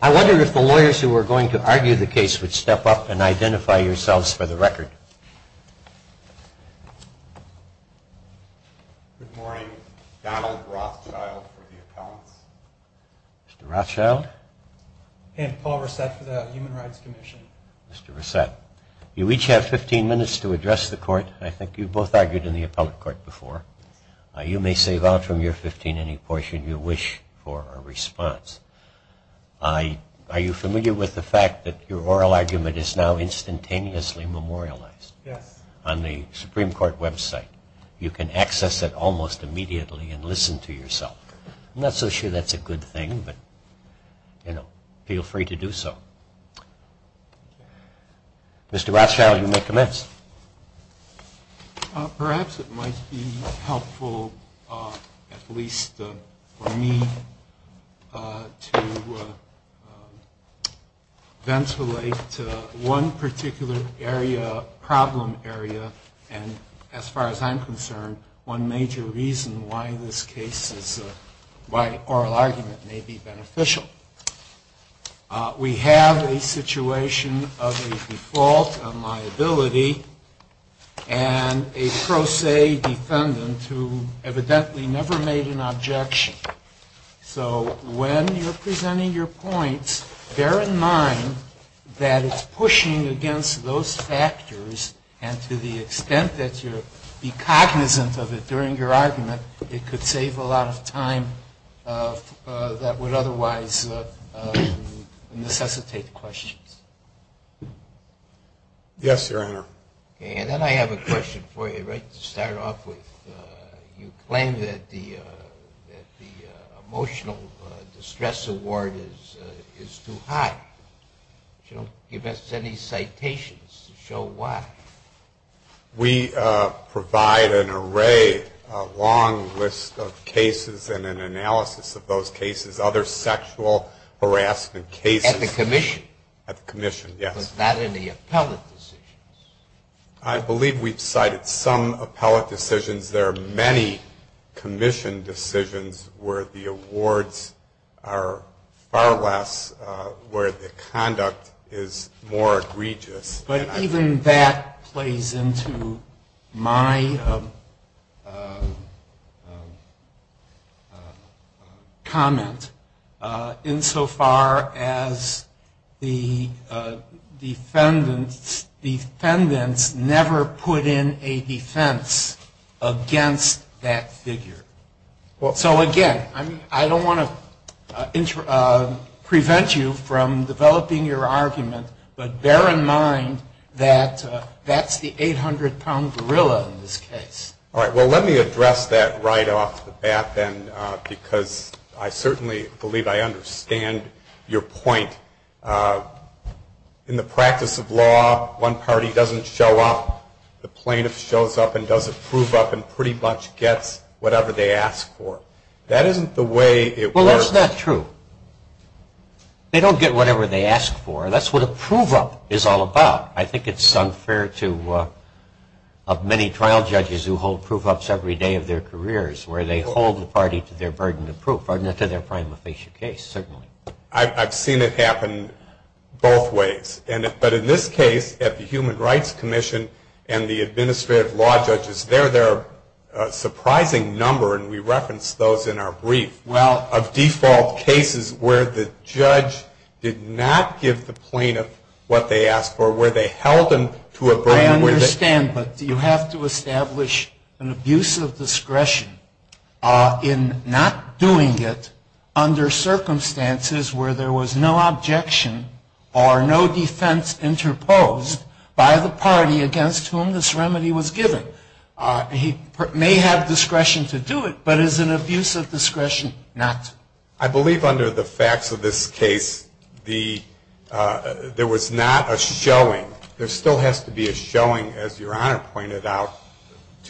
I wonder if the lawyers who were going to argue the case would step up and identify yourselves for the record. Good morning. Donald Rothschild for the appellants. Mr. Rothschild. And Paul Resett for the Human Rights Commission. Mr. Resett. You each have 15 minutes to address the court. I think you both argued in the appellate court. You may save out from your 15 any portion you wish for a response. Are you familiar with the fact that your oral argument is now instantaneously memorialized on the Supreme Court website? You can access it almost immediately and listen to yourself. I'm not so sure that's a good thing, but feel free to do so. Mr. Rothschild, you may commence. Perhaps it might be helpful, at least for me, to ventilate one particular area, problem area, and as far as I'm concerned, one major reason why this case is, why oral argument may be beneficial. We have a situation of a default on liability and a pro se defendant who evidently never made an objection. So when you're presenting your points, bear in mind that it's pushing against those factors, and to the extent that you're cognizant of it during your argument, it could save a lot of time that would otherwise necessitate questions. Yes, Your Honor. And then I have a question for you, right to start off with. You claim that the emotional distress award is too high. You don't give us any citations to show why. We provide an array, a long list of cases and an analysis of those cases, other sexual harassment cases. At the commission? At the commission, yes. Was that in the appellate decisions? I believe we've cited some appellate decisions. There are many commission decisions where the awards are far less, where the conduct is more egregious. But even that plays into my comment insofar as the defendants never put in a defense against that figure. So again, I don't want to prevent you from developing your argument, but bear in mind that that's the 800-pound gorilla in this case. All right, well, let me address that right off the bat then, because I certainly believe I understand your point. In the practice of law, one party doesn't show up, the plaintiff shows up and does a prove-up and pretty much gets whatever they ask for. That isn't the way it works. Well, that's not true. They don't get whatever they ask for. That's what a prove-up is all about. I think it's unfair to many trial judges who hold prove-ups every day of their careers, where they hold the party to their burden of proof, or to their prima facie case, certainly. I've seen it happen both ways. But in this case, at the Human Rights Commission and the administrative law judges, there are a surprising number, and we referenced those in our brief, of default cases where the judge did not give the plaintiff what they asked for, where they held them to a burden. I understand, but you have to establish an abuse of discretion in not doing it under circumstances where there was no objection or no defense interposed by the party against whom this remedy was given. He may have discretion to do it, but is an abuse of discretion not to? I believe under the facts of this case, there was not a showing. There still has to be a showing, as Your Honor pointed out.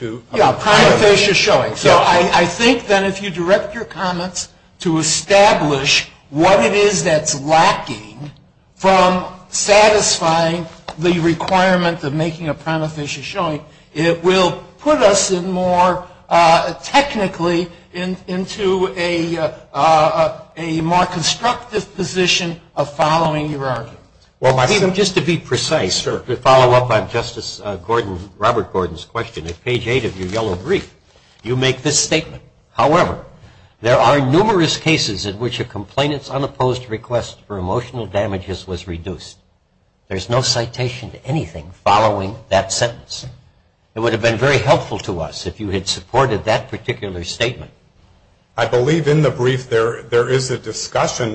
Yeah, a prima facie showing. So I think that if you direct your comments to establish what it is that's lacking from satisfying the requirement of making a prima facie showing, it will put us more technically into a more constructive position of following your argument. Well, even just to be precise, to follow up on Justice Gordon, Robert Gordon's question, at page 8 of your yellow brief, you make this statement. However, there are numerous cases in which a complainant's unopposed request for emotional damages was reduced. There's no citation to anything following that sentence. It would have been very helpful to us if you had supported that particular statement. I believe in the brief there is a discussion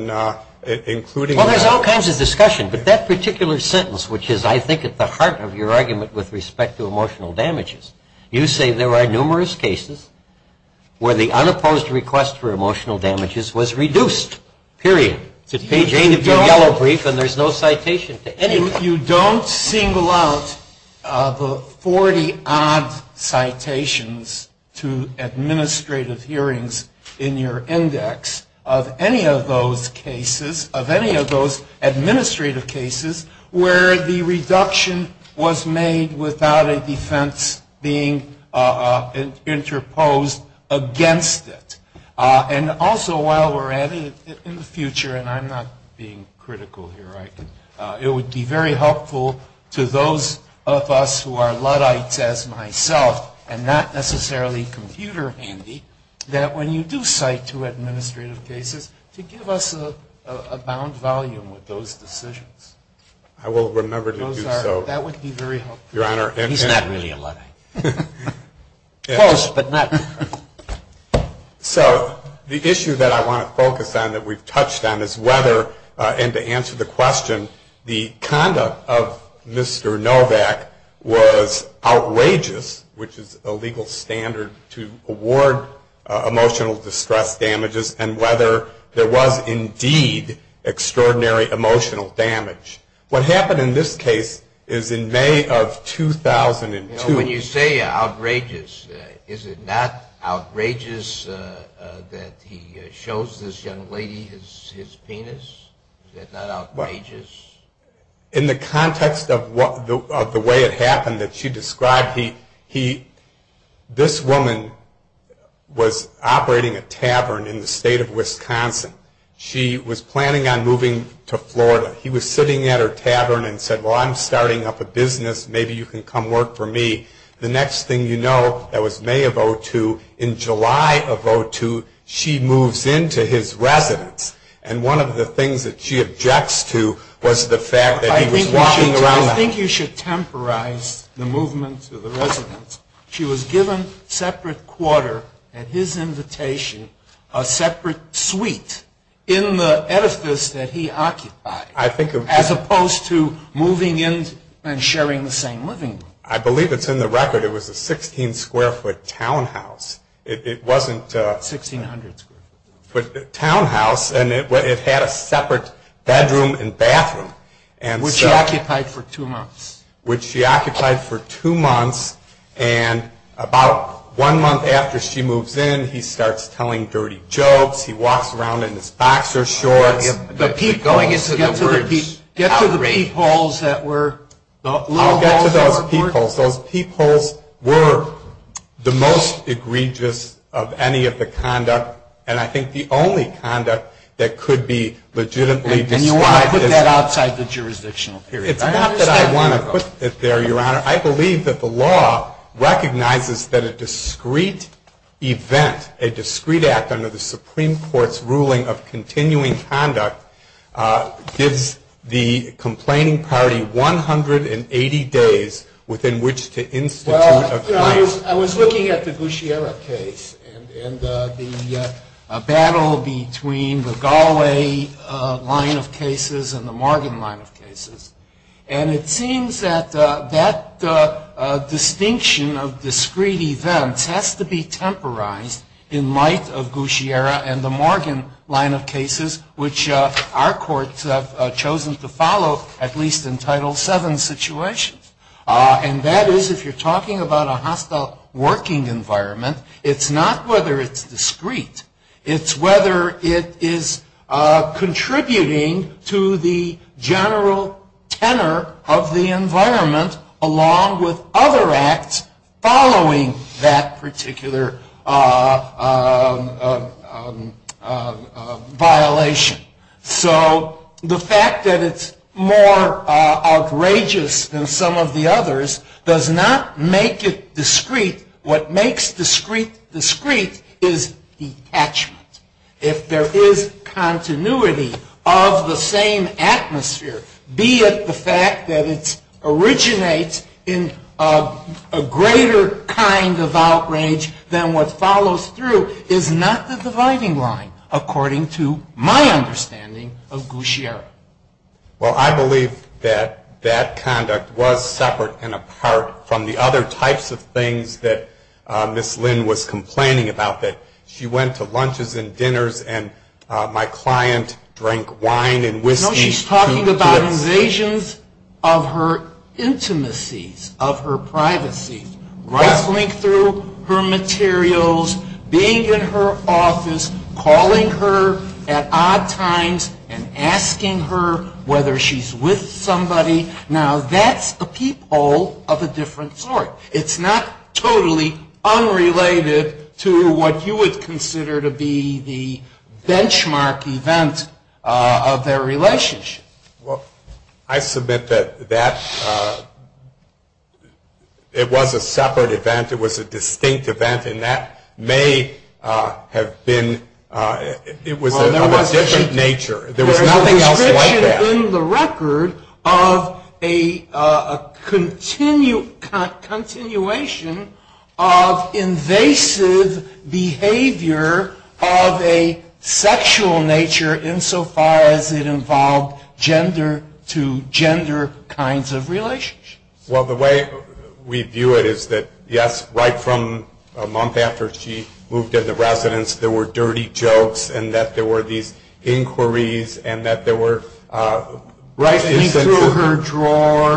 including that. Well, there's all kinds of discussion, but that particular sentence, which is I think at the heart of your argument with respect to emotional damages, you say there are numerous cases where the unopposed request for emotional damages was reduced, period. To page 8 of your yellow brief, and there's no citation to anything. You don't single out the 40-odd citations to administrative hearings in your index of any of those cases, of any of those administrative cases where the reduction was made without a defense being interposed against it. And also while we're at it, in the future, and I'm not being critical here, it would be very helpful to those of us who are Luddites as myself, and not necessarily computer handy, that when you do cite to administrative cases, to give us a bound volume with those decisions. I will remember to do so. That would be very helpful. He's not really a Luddite. Close, but not too close. So the issue that I want to focus on that we've touched on is whether, and to answer the question, the conduct of Mr. Novak was outrageous, which is a legal standard to award emotional distress damages, and whether there was indeed extraordinary emotional damage. What happened in this case is in May of 2002. When you say outrageous, is it not outrageous that he shows this young lady his penis? Is that not outrageous? In the context of the way it happened that she described, this woman was operating a tavern in the state of Wisconsin. She was planning on moving to Florida. He was sitting at her tavern and said, well, I'm starting up a business. Maybe you can come work for me. The next thing you know, that was May of 2002, in July of 2002, she moves into his residence. And one of the things that she objects to was the fact that he was walking around. I think you should temporize the movement to the residence. She was given a separate quarter at his invitation, a separate suite in the edifice that he occupied, as opposed to moving in and sharing the same living room. I believe it's in the record. It was a 16-square-foot townhouse. It wasn't a townhouse. It had a separate bedroom and bathroom. Which she occupied for two months. Which she occupied for two months. And about one month after she moves in, he starts telling dirty jokes. He walks around in his boxer shorts. Get to the peepholes that were. I'll get to those peepholes. Those peepholes were the most egregious of any of the conduct. And I think the only conduct that could be legitimately described as. And you want to put that outside the jurisdictional period. It's not that I want to put it there, Your Honor. I believe that the law recognizes that a discreet event, a discreet act under the Supreme Court's ruling of continuing conduct, gives the complaining party 180 days within which to institute a claim. I was looking at the Gushiera case and the battle between the Galway line of cases and the Morgan line of cases. And it seems that that distinction of discreet events has to be temporized in light of Gushiera and the Morgan line of cases, which our courts have chosen to follow at least in Title VII situations. And that is, if you're talking about a hostile working environment, it's not whether it's discreet. It's whether it is contributing to the general tenor of the environment, along with other acts following that particular violation. So the fact that it's more outrageous than some of the others does not make it discreet. What makes discreet discreet is detachment. If there is continuity of the same atmosphere, be it the fact that it originates in a greater kind of outrage than what follows through, is not the dividing line, according to my understanding of Gushiera. Well, I believe that that conduct was separate and apart from the other types of things that Ms. Lynn was complaining about, that she went to lunches and dinners and my client drank wine and whiskey. No, she's talking about invasions of her intimacies, of her privacy. Rustling through her materials, being in her office, calling her at odd times, and asking her whether she's with somebody. Now, that's a peephole of a different sort. It's not totally unrelated to what you would consider to be the benchmark event of their relationship. Well, I submit that it was a separate event. It was a distinct event, and that may have been of a different nature. There was nothing else like that. in the record of a continuation of invasive behavior of a sexual nature, insofar as it involved gender-to-gender kinds of relationships. Well, the way we view it is that, yes, right from a month after she moved into the residence, there were dirty jokes and that there were these inquiries and that there were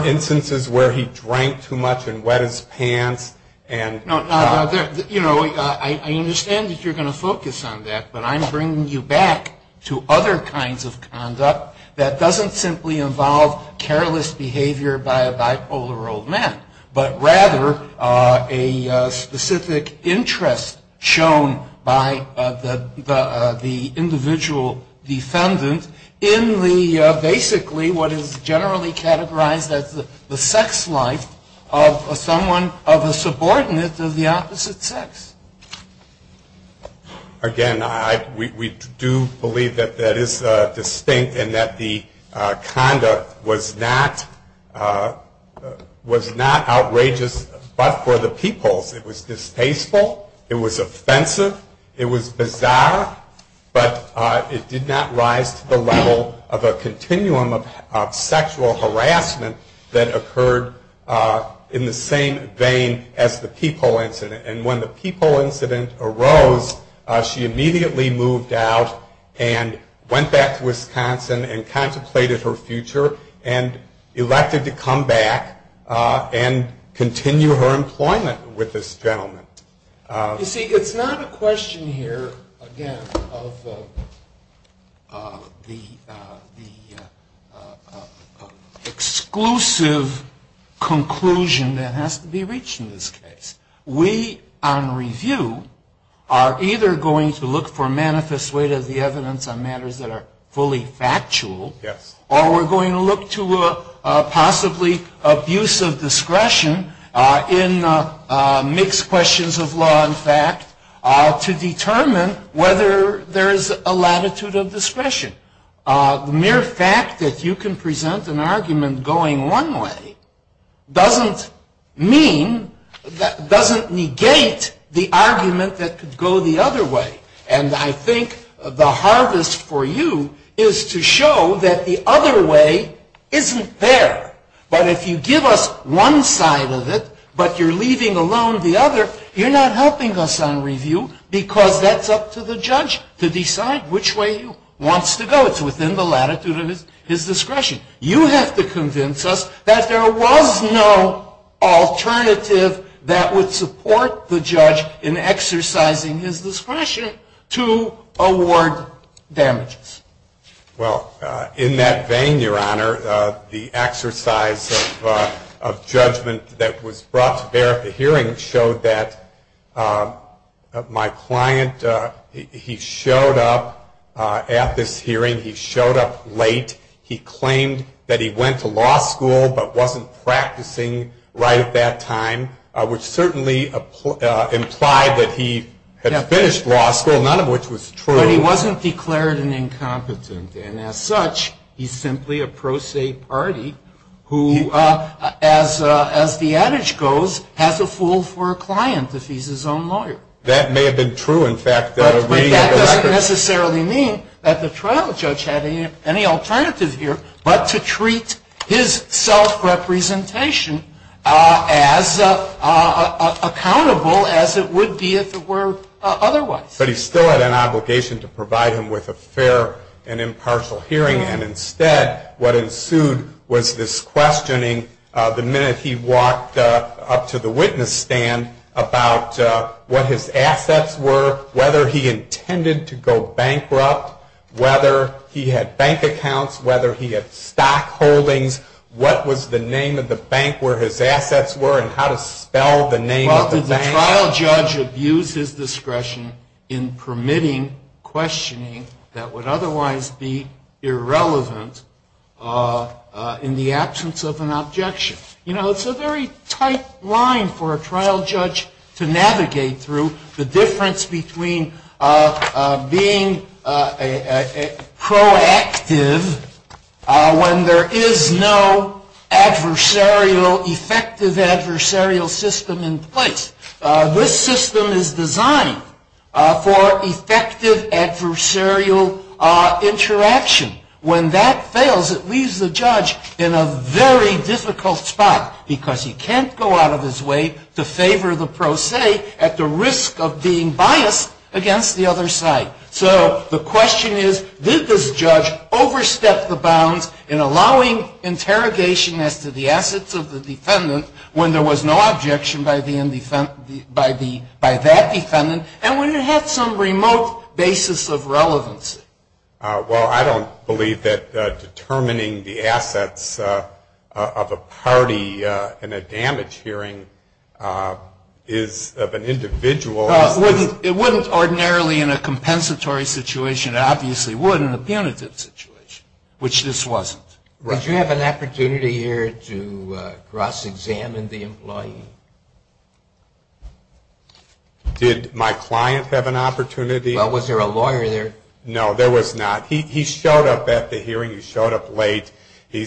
instances where he drank too much and wet his pants. You know, I understand that you're going to focus on that, but I'm bringing you back to other kinds of conduct that doesn't simply involve careless behavior by a bipolar old man, but rather a specific interest shown by the individual defendant in the, basically, what is generally categorized as the sex life of someone of a subordinate of the opposite sex. Again, we do believe that that is distinct and that the conduct was not outrageous but for the peoples. It was distasteful, it was offensive, it was bizarre, but it did not rise to the level of a continuum of sexual harassment that occurred in the same vein as the people incident. And when the people incident arose, she immediately moved out and went back to Wisconsin and contemplated her future and elected to come back and continue her employment with this gentleman. You see, it's not a question here, again, of the exclusive conclusion that has to be reached in this case. We, on review, are either going to look for manifest weight of the evidence on matters that are fully factual, or we're going to look to possibly abuse of discretion in mixed questions of law and fact to determine whether there is a latitude of discretion. The mere fact that you can present an argument going one way doesn't mean, doesn't negate the argument that could go the other way. And I think the hardest for you is to show that the other way isn't there. But if you give us one side of it but you're leaving alone the other, you're not helping us on review because that's up to the judge to decide which way he wants to go. It's within the latitude of his discretion. You have to convince us that there was no alternative that would support the judge in exercising his discretion to award damages. Well, in that vein, Your Honor, the exercise of judgment that was brought to bear at the hearing showed that my client, he showed up at this hearing, he showed up late, he claimed that he went to law school but wasn't practicing right at that time, which certainly implied that he had finished law school, none of which was true. But he wasn't declared an incompetent. And as such, he's simply a pro se party who, as the adage goes, has a fool for a client if he's his own lawyer. That may have been true, in fact. But that doesn't necessarily mean that the trial judge had any alternative here but to treat his self-representation as accountable as it would be if it were otherwise. But he still had an obligation to provide him with a fair and impartial hearing. And instead, what ensued was this questioning the minute he walked up to the witness stand about what his assets were, whether he intended to go bankrupt, whether he had bank accounts, whether he had stock holdings, what was the name of the bank where his assets were Well, did the trial judge abuse his discretion in permitting questioning that would otherwise be irrelevant in the absence of an objection? You know, it's a very tight line for a trial judge to navigate through, the difference between being proactive when there is no adversarial, effective adversarial system in place. This system is designed for effective adversarial interaction. When that fails, it leaves the judge in a very difficult spot because he can't go out of his way to favor the pro se at the risk of being biased against the other side. So the question is, did this judge overstep the bounds in allowing interrogation as to the assets of the defendant when there was no objection by that defendant and when it had some remote basis of relevance? Well, I don't believe that determining the assets of a party in a damage hearing is of an individual. It wouldn't ordinarily in a compensatory situation. It obviously wouldn't in a punitive situation, which this wasn't. Did you have an opportunity here to cross-examine the employee? Did my client have an opportunity? Well, was there a lawyer there? No, there was not. He showed up at the hearing. He showed up late. He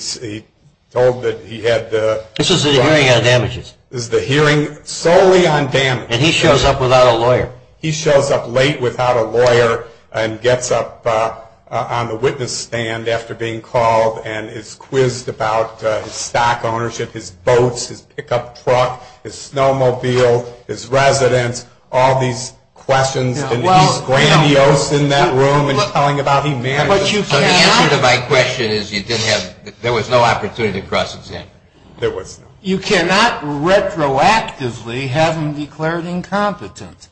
told that he had the... This is the hearing on damages. This is the hearing solely on damages. And he shows up without a lawyer. He shows up late without a lawyer and gets up on the witness stand after being called and is quizzed about his stock ownership, his boats, his pickup truck, his snowmobile, his residence, all these questions. And he's grandiose in that room and telling about he managed... The answer to my question is you didn't have... There was no opportunity to cross-examine him. There was not. You cannot retroactively have him declared incompetent.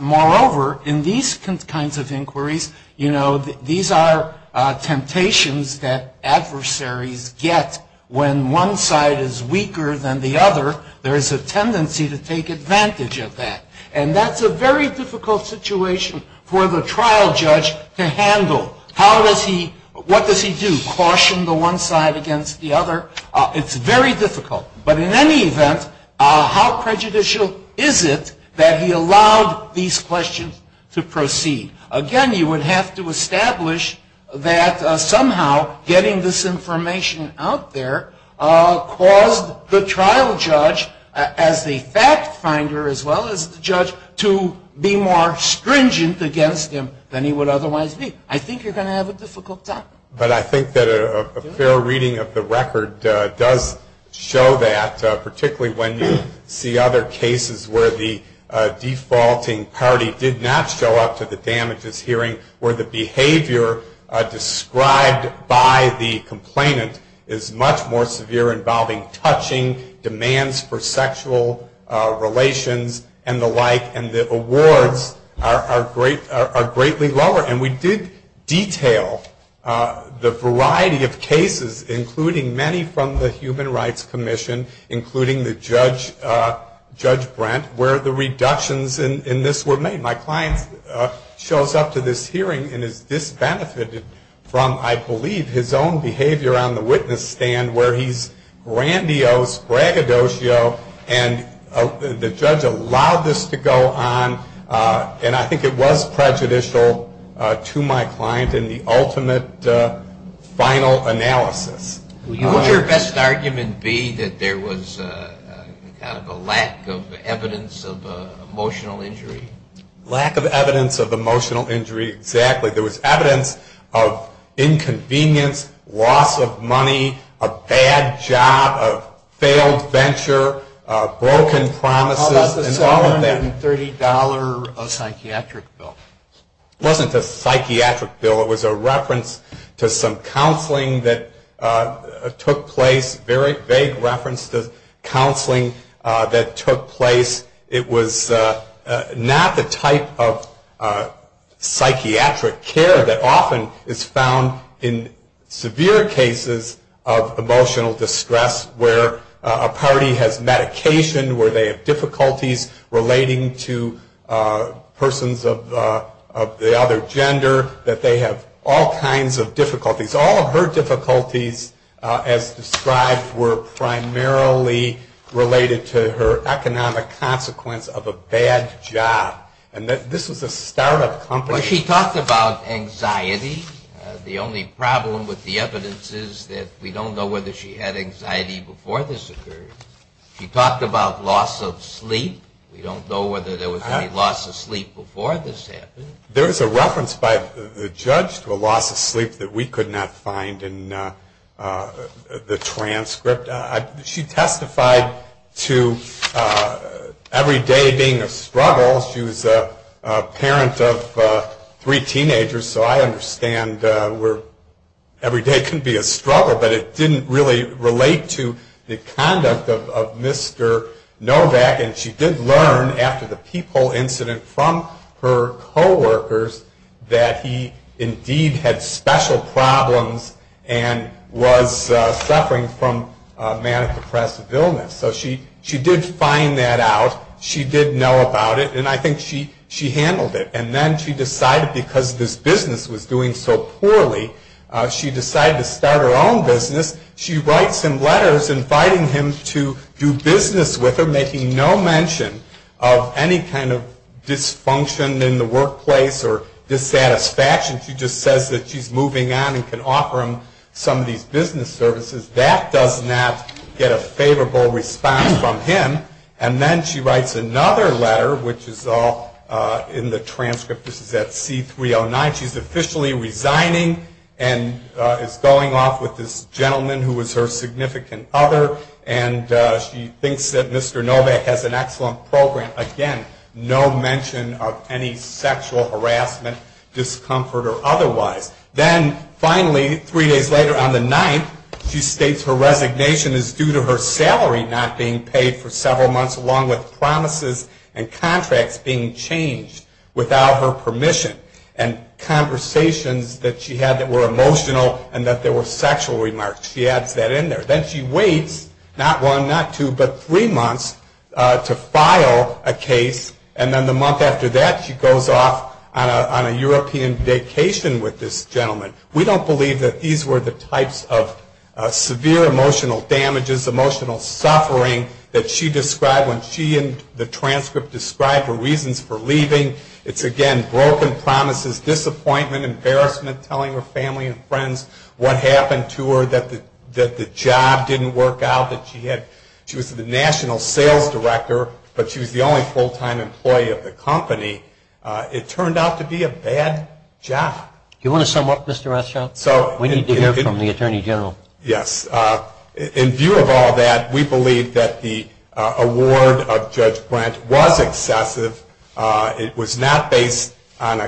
Moreover, in these kinds of inquiries, you know, these are temptations that adversaries get when one side is weaker than the other. There is a tendency to take advantage of that. And that's a very difficult situation for the trial judge to handle. How does he... What does he do? Caution the one side against the other? It's very difficult. But in any event, how prejudicial is it that he allowed these questions to proceed? Again, you would have to establish that somehow getting this information out there caused the trial judge as the fact finder as well as the judge to be more stringent against him than he would otherwise be. I think you're going to have a difficult time. But I think that a fair reading of the record does show that, particularly when you see other cases where the defaulting party did not show up to the damages hearing, where the behavior described by the complainant is much more severe involving touching, demands for sexual relations, and the like, and the awards are greatly lower. And we did detail the variety of cases, including many from the Human Rights Commission, including Judge Brent, where the reductions in this were made. My client shows up to this hearing and is disbenefited from, I believe, his own behavior on the witness stand where he's grandiose, braggadocio, and the judge allowed this to go on. And I think it was prejudicial to my client in the ultimate final analysis. What would your best argument be that there was a lack of evidence of emotional injury? Lack of evidence of emotional injury, exactly. There was evidence of inconvenience, loss of money, a bad job, a failed venture, broken promises. How about the $730 psychiatric bill? It wasn't a psychiatric bill. It was a reference to some counseling that took place, a very vague reference to counseling that took place. It was not the type of psychiatric care that often is found in severe cases of emotional distress, where a party has medication, where they have difficulties relating to persons of the other gender, that they have all kinds of difficulties. All of her difficulties, as described, were primarily related to her economic consequence of a bad job. And this was a startup company. Well, she talked about anxiety. The only problem with the evidence is that we don't know whether she had anxiety before this occurred. She talked about loss of sleep. We don't know whether there was any loss of sleep before this happened. There is a reference by the judge to a loss of sleep that we could not find in the transcript. She testified to every day being a struggle. She was a parent of three teenagers, so I understand where every day can be a struggle, but it didn't really relate to the conduct of Mr. Novak. And she did learn after the peephole incident from her coworkers that he indeed had special problems and was suffering from manic depressive illness. So she did find that out. She did know about it, and I think she handled it. And then she decided, because this business was doing so poorly, she decided to start her own business. She writes him letters inviting him to do business with her, making no mention of any kind of dysfunction in the workplace or dissatisfaction. She just says that she's moving on and can offer him some of these business services. That does not get a favorable response from him. And then she writes another letter, which is all in the transcript. This is at C-309. She's officially resigning and is going off with this gentleman who was her significant other, and she thinks that Mr. Novak has an excellent program. Again, no mention of any sexual harassment, discomfort, or otherwise. Then, finally, three days later on the 9th, she states her resignation is due to her salary not being paid for several months along with promises and contracts being changed without her permission. And conversations that she had that were emotional and that there were sexual remarks. She adds that in there. Then she waits, not one, not two, but three months to file a case, and then the month after that she goes off on a European vacation with this gentleman. We don't believe that these were the types of severe emotional damages, emotional suffering, that she described when she in the transcript described her reasons for leaving. It's, again, broken promises, disappointment, embarrassment, telling her family and friends what happened to her, that the job didn't work out, that she was the national sales director, but she was the only full-time employee of the company. It turned out to be a bad job. Do you want to sum up, Mr. Rothschild? We need to hear from the Attorney General. Yes. In view of all that, we believe that the award of Judge Brent was excessive. It was not based on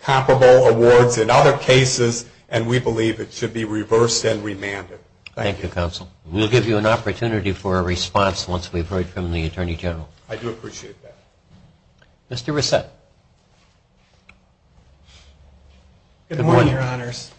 comparable awards in other cases, and we believe it should be reversed and remanded. Thank you. Thank you, Counsel. We'll give you an opportunity for a response once we've heard from the Attorney General. I do appreciate that. Mr. Reset. Good morning, Your Honors.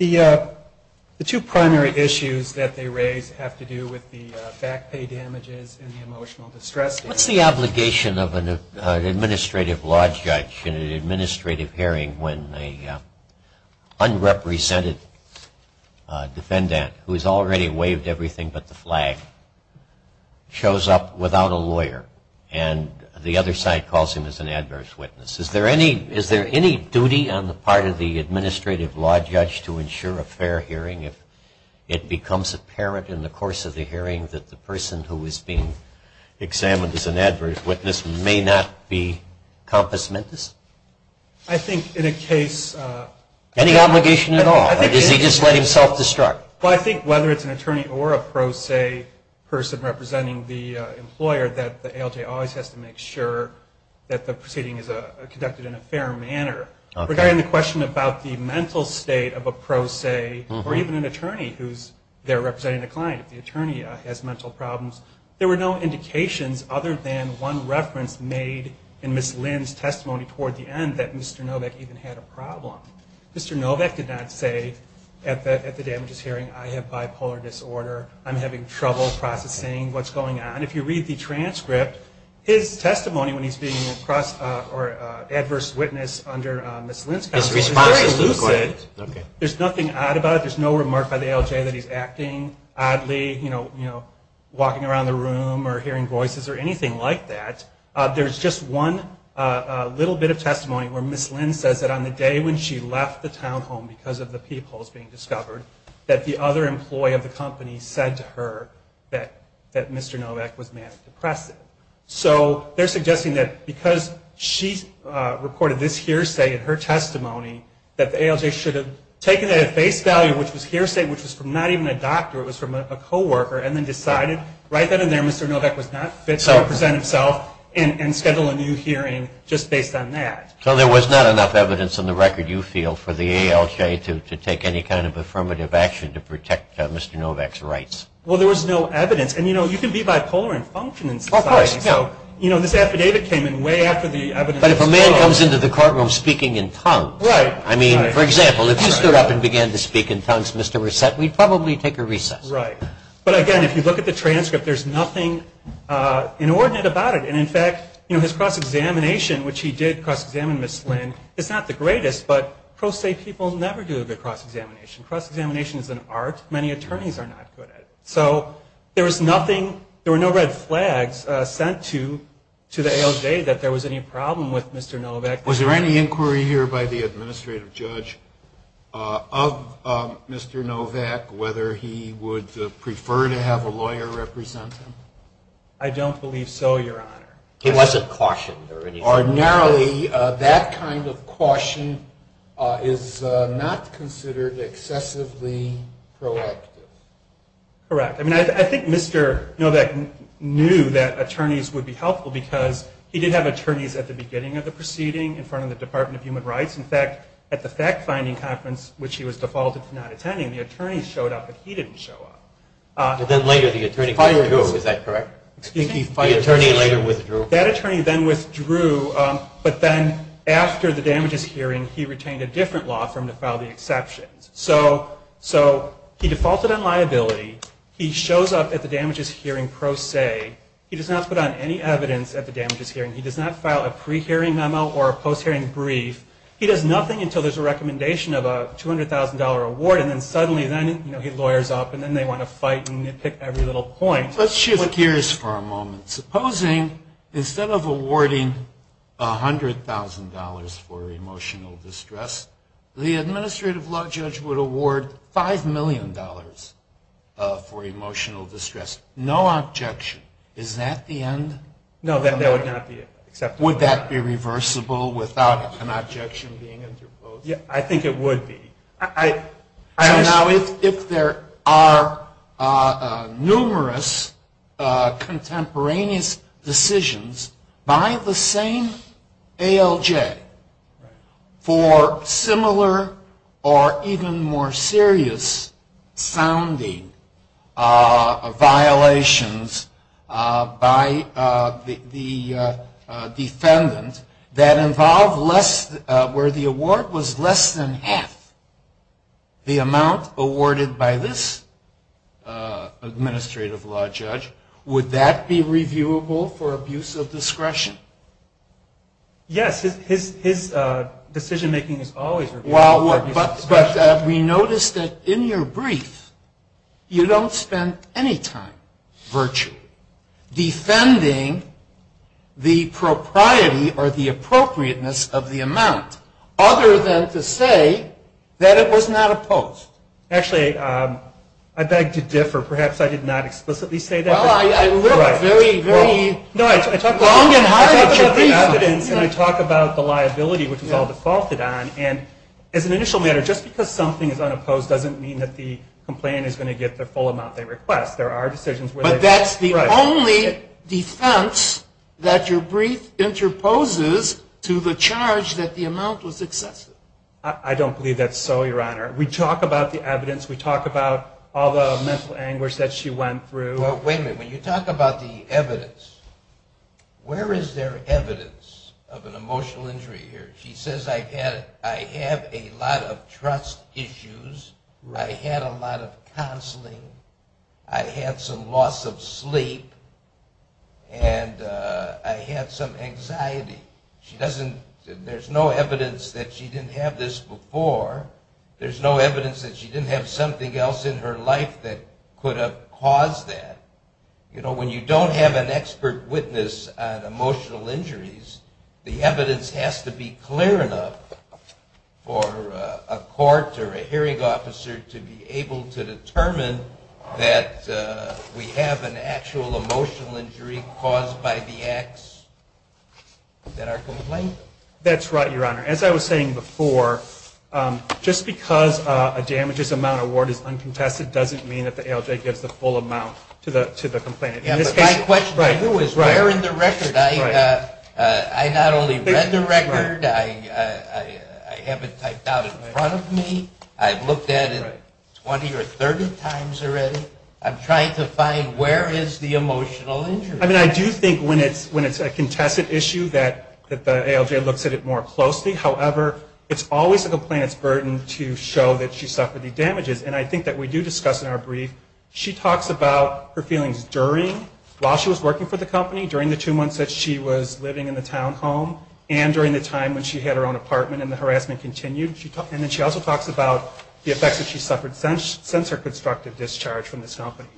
The two primary issues that they raise have to do with the back pay damages and the emotional distress damages. What's the obligation of an administrative law judge in an administrative hearing when an unrepresented defendant, who has already waived everything but the flag, shows up without a lawyer, and the other side calls him as an adverse witness? Is there any duty on the part of the administrative law judge to ensure a fair hearing if it becomes apparent in the course of the hearing that the person who is being examined as an adverse witness may not be compass mentis? I think in a case of any obligation at all. Does he just let himself distract? Well, I think whether it's an attorney or a pro se person representing the employer, that the ALJ always has to make sure that the proceeding is conducted in a fair manner. Regarding the question about the mental state of a pro se, or even an attorney who's there representing the client, if the attorney has mental problems, there were no indications other than one reference made in Ms. Lynn's testimony toward the end that Mr. Novak even had a problem. Mr. Novak did not say at the damages hearing, I have bipolar disorder. I'm having trouble processing what's going on. If you read the transcript, his testimony when he's being an adverse witness under Ms. Lynn's counsel is very lucid. There's nothing odd about it. There's no remark by the ALJ that he's acting oddly, walking around the room or hearing voices or anything like that. There's just one little bit of testimony where Ms. Lynn says that on the day when she left the townhome because of the peepholes being discovered, that the other employee of the company said to her that Mr. Novak was manic depressive. So they're suggesting that because she reported this hearsay in her testimony, that the ALJ should have taken that at face value, which was hearsay, which was from not even a doctor, it was from a coworker, and then decided right then and there Mr. Novak was not fit to represent himself and schedule a new hearing just based on that. So there was not enough evidence in the record, you feel, for the ALJ to take any kind of affirmative action to protect Mr. Novak's rights? Well, there was no evidence. And, you know, you can be bipolar and function in society. Of course. So, you know, this affidavit came in way after the evidence came out. But if a man comes into the courtroom speaking in tongues. Right. I mean, for example, if you stood up and began to speak in tongues, Mr. Reset, we'd probably take a recess. Right. But, again, if you look at the transcript, there's nothing inordinate about it. And, in fact, you know, his cross-examination, which he did cross-examine Ms. Lynn, is not the greatest, but pro se people never do a good cross-examination. Cross-examination is an art many attorneys are not good at. So there was nothing. There were no red flags sent to the ALJ that there was any problem with Mr. Novak. Was there any inquiry here by the administrative judge of Mr. Novak, whether he would prefer to have a lawyer represent him? I don't believe so, Your Honor. He wasn't cautioned or anything like that? Generally, that kind of caution is not considered excessively proactive. Correct. I mean, I think Mr. Novak knew that attorneys would be helpful because he did have attorneys at the beginning of the proceeding in front of the Department of Human Rights. In fact, at the fact-finding conference, which he was defaulted to not attending, the attorney showed up, but he didn't show up. But then later the attorney withdrew. Is that correct? Excuse me? The attorney later withdrew. That attorney then withdrew, but then after the damages hearing, he retained a different law firm to file the exceptions. So he defaulted on liability. He shows up at the damages hearing pro se. He does not put on any evidence at the damages hearing. He does not file a pre-hearing memo or a post-hearing brief. He does nothing until there's a recommendation of a $200,000 award, and then suddenly then he lawyers up, and then they want to fight and pick every little point. Let's shift gears for a moment. Supposing instead of awarding $100,000 for emotional distress, the administrative law judge would award $5 million for emotional distress. No objection. Is that the end? No, that would not be acceptable. Would that be reversible without an objection being interposed? I think it would be. So now if there are numerous contemporaneous decisions by the same ALJ for similar or even more serious sounding violations by the defendant that involve less than half the amount awarded by this administrative law judge, would that be reviewable for abuse of discretion? Yes. His decision making is always reviewable for abuse of discretion. But we notice that in your brief you don't spend any time virtually defending the propriety or the appropriateness of the amount other than to say that it was not opposed. Actually, I beg to differ. Perhaps I did not explicitly say that. Well, I look very long and hard at your brief. No, I talk about the evidence, and I talk about the liability, which is all defaulted on. And as an initial matter, just because something is unopposed doesn't mean that the complainant is going to get the full amount they request. But that's the only defense that your brief interposes to the charge that the amount was excessive. I don't believe that's so, Your Honor. We talk about the evidence. We talk about all the mental anguish that she went through. Well, wait a minute. When you talk about the evidence, where is there evidence of an emotional injury here? She says I have a lot of trust issues. I had a lot of counseling. I had some loss of sleep. And I had some anxiety. There's no evidence that she didn't have this before. There's no evidence that she didn't have something else in her life that could have caused that. You know, when you don't have an expert witness on emotional injuries, the evidence has to be clear enough for a court or a hearing officer to be sure that we have an actual emotional injury caused by the acts that are complained of. That's right, Your Honor. As I was saying before, just because a damages amount award is uncontested doesn't mean that the ALJ gives the full amount to the complainant. My question to you is where in the record? I not only read the record. I have it typed out in front of me. I've looked at it 20 or 30 times already. I'm trying to find where is the emotional injury. I mean, I do think when it's a contested issue that the ALJ looks at it more closely. However, it's always the complainant's burden to show that she suffered the damages. And I think that we do discuss in our brief, she talks about her feelings during, while she was working for the company, during the two months that she was living in the townhome, and during the time when she had her own apartment and the harassment continued. And then she also talks about the effects that she suffered since her constructive discharge from this company.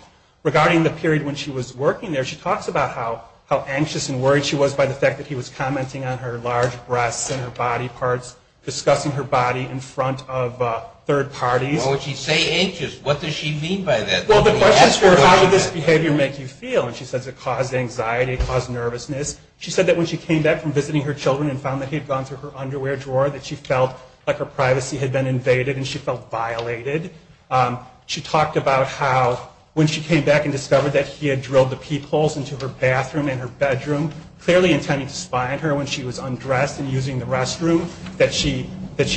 Regarding the period when she was working there, she talks about how anxious and worried she was by the fact that he was commenting on her large breasts and her body parts, discussing her body in front of third parties. Well, when she say anxious, what does she mean by that? Well, the question is how did this behavior make you feel? And she says it caused anxiety, it caused nervousness. She said that when she came back from visiting her children and found that he had gone through her underwear drawer, that she felt like her privacy had been invaded and she felt violated. She talked about how when she came back and discovered that he had drilled the peepholes into her bathroom and her bedroom, clearly intending to spy on her when she was undressed and using the restroom, that she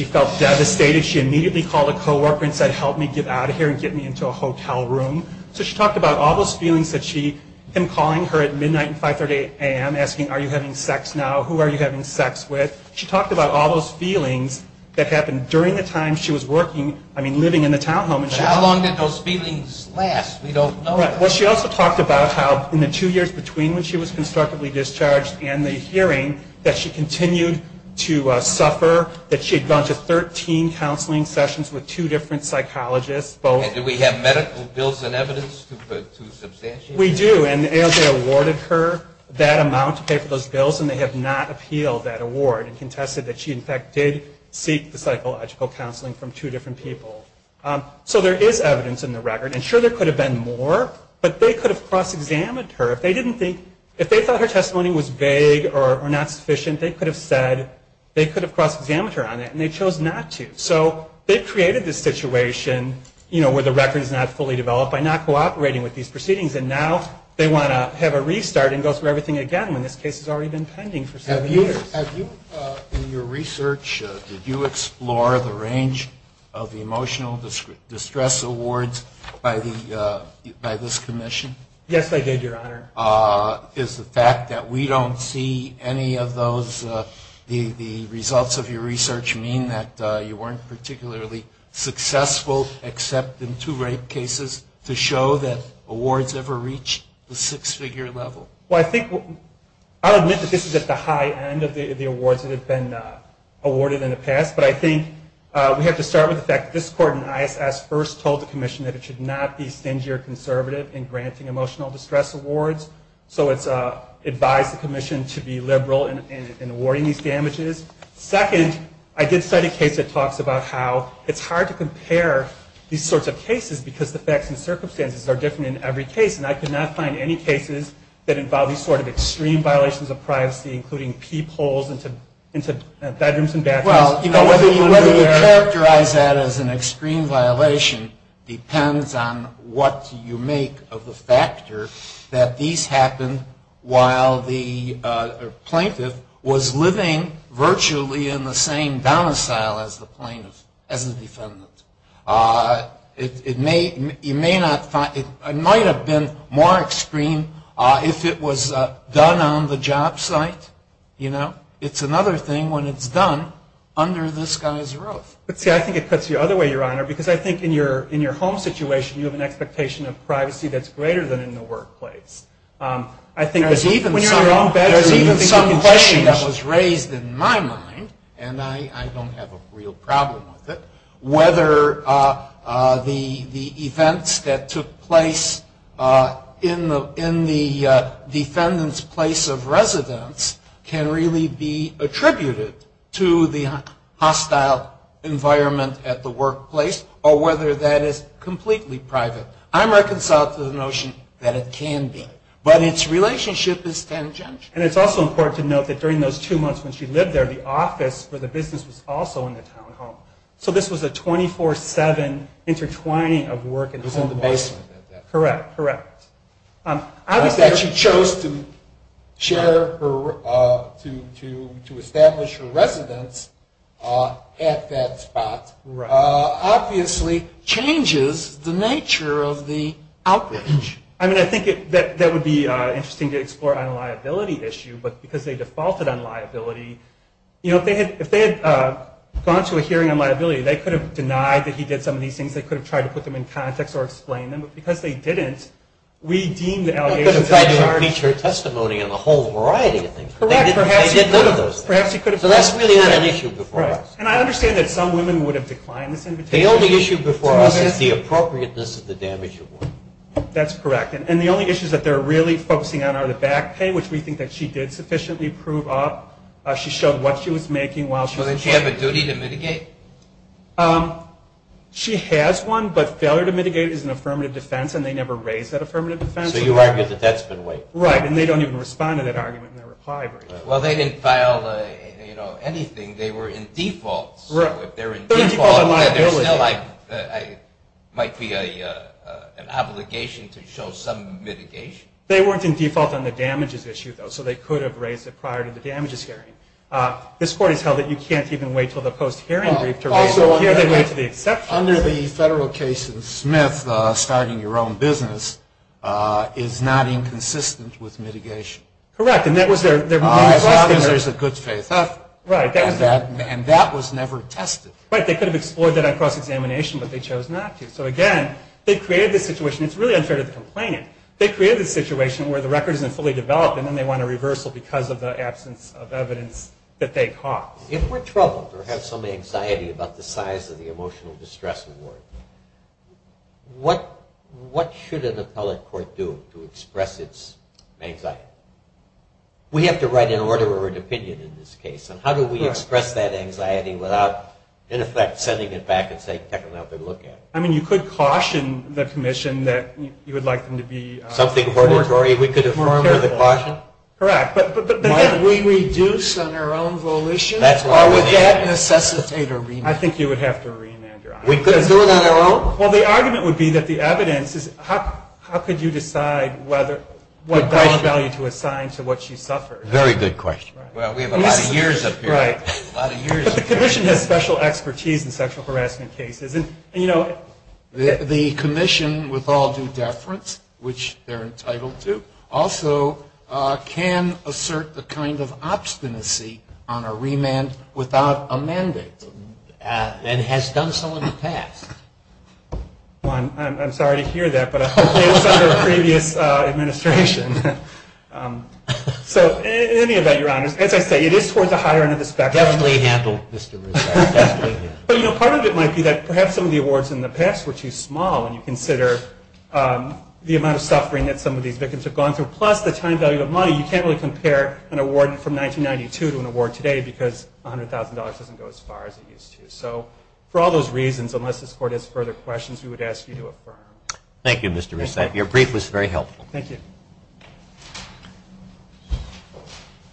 felt devastated. She immediately called a co-worker and said, help me get out of here and get me into a hotel room. So she talked about all those feelings that she, him calling her at midnight and 5.30 a.m. asking, are you having sex now? Who are you having sex with? She talked about all those feelings that happened during the time she was working, I mean living in the townhome. But how long did those feelings last? We don't know. Well, she also talked about how in the two years between when she was constructively discharged and the hearing, that she continued to suffer, that she had gone to 13 counseling sessions with two different psychologists. And do we have medical bills and evidence to substantiate that? We do. And ALJ awarded her that amount to pay for those bills, and they have not appealed that award and contested that she, in fact, did seek the psychological counseling from two different people. So there is evidence in the record. And sure, there could have been more, but they could have cross-examined her. If they thought her testimony was vague or not sufficient, they could have said they could have cross-examined her on it, and they chose not to. So they created this situation where the record is not fully developed by not cooperating with these proceedings, and now they want to have a restart and go through everything again, when this case has already been pending for so many years. In your research, did you explore the range of emotional distress awards by this commission? Yes, I did, Your Honor. Is the fact that we don't see any of those, the results of your research, mean that you weren't particularly successful except in two rape cases to show that awards ever reach the six-figure level? Well, I think I'll admit that this is at the high end of the awards that have been awarded in the past, but I think we have to start with the fact that this court in ISS first told the commission that it should not be stingy or conservative in granting emotional distress awards. So it's advised the commission to be liberal in awarding these damages. Second, I did cite a case that talks about how it's hard to compare these sorts of cases because the facts and circumstances are different in every case, and I could not find any cases that involved these sort of extreme violations of privacy, including pee-poles into bedrooms and bathrooms. Whether you characterize that as an extreme violation depends on what you make of the factor that these happened while the plaintiff was living virtually in the same domicile as the defendant. It might have been more extreme if it was done on the job site. It's another thing when it's done under this guy's roof. But, see, I think it cuts you the other way, Your Honor, because I think in your home situation you have an expectation of privacy that's greater than in the workplace. There's even some question that was raised in my mind, and I don't have a real problem with it, whether the events that took place in the defendant's place of residence can really be attributed to the hostile environment at the workplace or whether that is completely private. I'm reconciled to the notion that it can be. But its relationship is tangential. And it's also important to note that during those two months when she lived there, the office for the business was also in the town home. So this was a 24-7 intertwining of work and home life. It was in the basement at that time. Correct, correct. Obviously, she chose to establish her residence at that spot. Obviously, changes the nature of the outrage. I mean, I think that would be interesting to explore on a liability issue. But because they defaulted on liability, you know, if they had gone to a hearing on liability, they could have denied that he did some of these things. They could have tried to put them in context or explain them. But because they didn't, we deem the allegations as charges. They could have tried to impeach her testimony on a whole variety of things. Correct. They did none of those things. So that's really not an issue before us. And I understand that some women would have declined this invitation. The only issue before us is the appropriateness of the damage award. That's correct. And the only issues that they're really focusing on are the back pay, which we think that she did sufficiently prove up. She showed what she was making while she was there. Doesn't she have a duty to mitigate? She has one, but failure to mitigate is an affirmative defense, and they never raise that affirmative defense. So you argue that that's been waived. Right, and they don't even respond to that argument in their reply brief. Well, they didn't file, you know, anything. They were in default, so if they're in default, there still might be an obligation to show some mitigation. They weren't in default on the damages issue, though, so they could have raised it prior to the damages hearing. This Court has held that you can't even wait until the post-hearing brief to raise it. Also, under the federal case in Smith, starting your own business is not inconsistent with mitigation. Correct, and that was their main question. There is a good faith effort, and that was never tested. Right, they could have explored that on cross-examination, but they chose not to. So, again, they created this situation. It's really unfair to the complainant. They created this situation where the record isn't fully developed, and then they want a reversal because of the absence of evidence that they caught. If we're troubled or have some anxiety about the size of the emotional distress award, what should an appellate court do to express its anxiety? We have to write an order or an opinion in this case, and how do we express that anxiety without, in effect, sending it back and saying, take another look at it. I mean, you could caution the commission that you would like them to be more careful. Something auditory we could inform with a caution? Correct, but then we reduce on our own volition, or would that necessitate a remand? I think you would have to remand your honor. We could do it on our own? Well, the argument would be that the evidence is how could you decide what valid value to assign to what she suffered. Very good question. Well, we have a lot of years up here. Right. But the commission has special expertise in sexual harassment cases. And you know, the commission, with all due deference, which they're entitled to, also can assert the kind of obstinacy on a remand without a mandate, and has done so in the past. I'm sorry to hear that, but I hope it was under a previous administration. So, in any event, your honors, as I say, it is towards the higher end of the spectrum. Definitely handled, Mr. Rizzo. But, you know, part of it might be that perhaps some of the awards in the past were too small when you consider the amount of suffering that some of these victims have gone through, plus the time value of money. You can't really compare an award from 1992 to an award today because $100,000 doesn't go as far as it used to. So, for all those reasons, unless this court has further questions, we would ask you to affirm. Thank you, Mr. Rizzo. Your brief was very helpful. Thank you.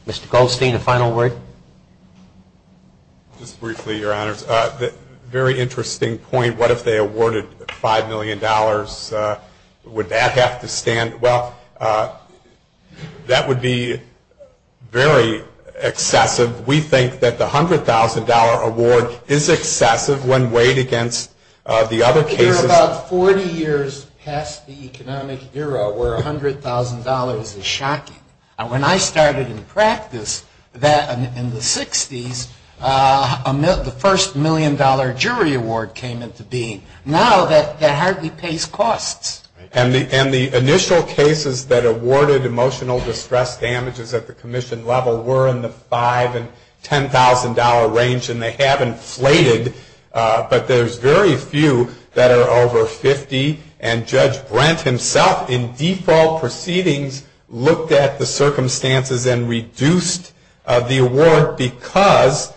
Mr. Goldstein, a final word? Just briefly, your honors. Very interesting point. What if they awarded $5 million? Would that have to stand? Well, that would be very excessive. We think that the $100,000 award is excessive when weighed against the other cases. We're about 40 years past the economic era where $100,000 is shocking. When I started in practice in the 60s, the first million dollar jury award came into being. Now that hardly pays costs. And the initial cases that awarded emotional distress damages at the commission level were in the $5,000 and $10,000 range. And they have inflated. But there's very few that are over $50,000. And Judge Brent himself, in default proceedings, looked at the circumstances and reduced the award because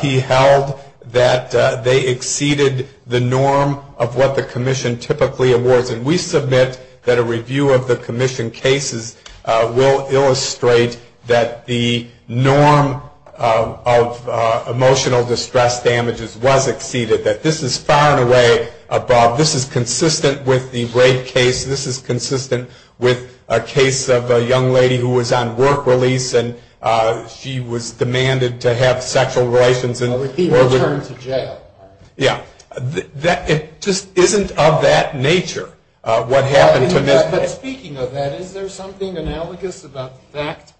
he held that they exceeded the norm of what the commission typically awards. And we submit that a review of the commission cases will illustrate that the norm of emotional distress damages was exceeded, that this is far and away above. This is consistent with the rape case. This is consistent with a case of a young lady who was on work release, and she was demanded to have sexual relations. But with the return to jail. Yeah. It just isn't of that nature, what happened to Ms. But speaking of that, is there something analogous about that?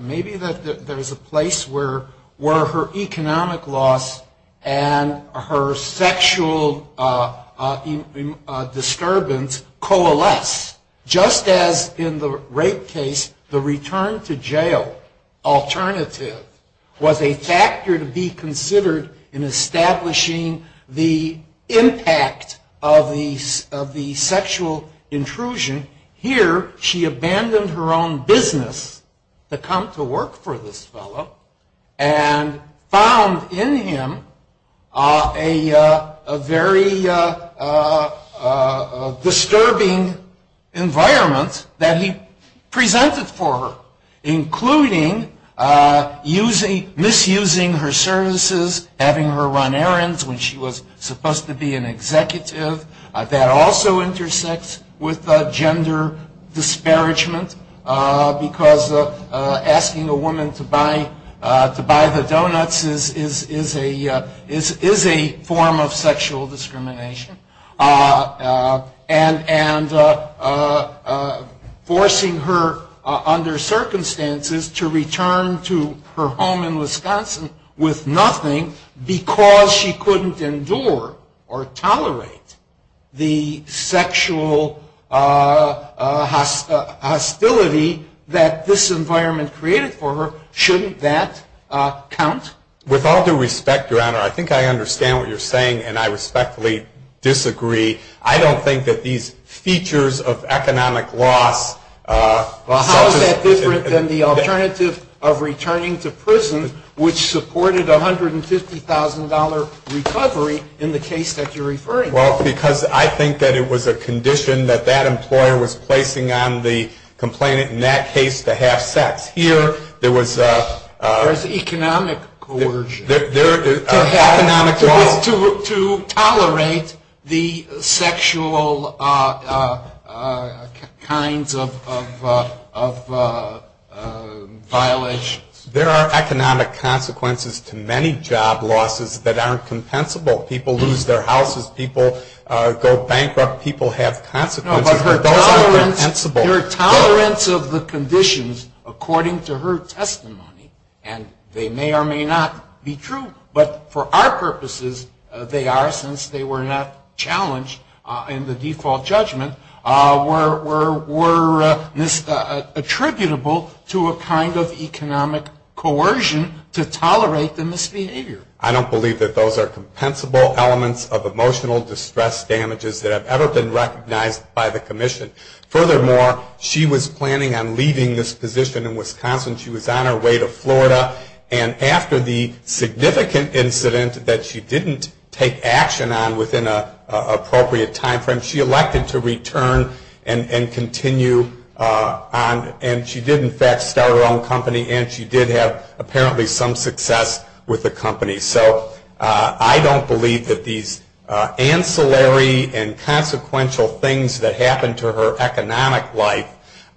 Maybe that there's a place where her economic loss and her sexual disturbance coalesce. Just as in the rape case, the return to jail alternative was a factor to be considered in establishing the impact of the sexual intrusion. Here, she abandoned her own business to come to work for this fellow, and found in him a very disturbing environment that he presented for her, including misusing her services, having her run errands when she was supposed to be an executive. That also intersects with gender disparagement, because asking a woman to buy the donuts is a form of sexual discrimination. And forcing her, under circumstances, to return to her home in Wisconsin with nothing, because she couldn't endure or tolerate the sexual hostility that this environment created for her. Shouldn't that count? With all due respect, Your Honor, I think I understand what you're saying, and I respectfully disagree. I don't think that these features of economic loss... Well, how is that different than the alternative of returning to prison, which supported a $150,000 recovery in the case that you're referring to? Well, because I think that it was a condition that that employer was placing on the complainant, in that case, to have sex. Here, there was... There's economic coercion. To have, to tolerate the sexual kinds of violations. There are economic consequences to many job losses that aren't compensable. People lose their houses. People go bankrupt. People have consequences. No, but her tolerance of the conditions, according to her testimony, and they may or may not be true, but for our purposes, they are since they were not challenged in the default judgment, were attributable to a kind of economic coercion to tolerate the misbehavior. I don't believe that those are compensable elements of emotional distress damages that have ever been recognized by the commission. Furthermore, she was planning on leaving this position in Wisconsin. She was on her way to Florida. And after the significant incident that she didn't take action on within an appropriate time frame, she elected to return and continue on. And she did, in fact, start her own company, and she did have apparently some success with the company. So I don't believe that these ancillary and consequential things that happened to her economic life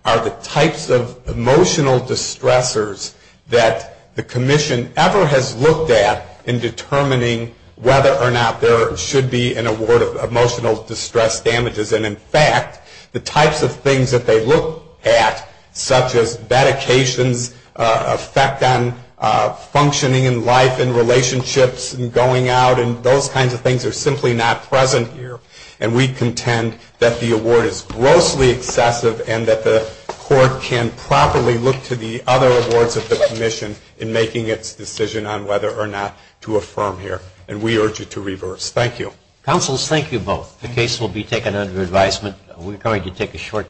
are the types of emotional distressers that the commission ever has looked at in determining whether or not there should be an award of emotional distress damages. And, in fact, the types of things that they look at, such as medications, effect on functioning in life and relationships and going out, and those kinds of things are simply not present here. And we contend that the award is grossly excessive and that the court can properly look to the other awards of the commission in making its decision on whether or not to affirm here. And we urge you to reverse. Thank you. Counsel, thank you both. The case will be taken under advisement. We're going to take a short break.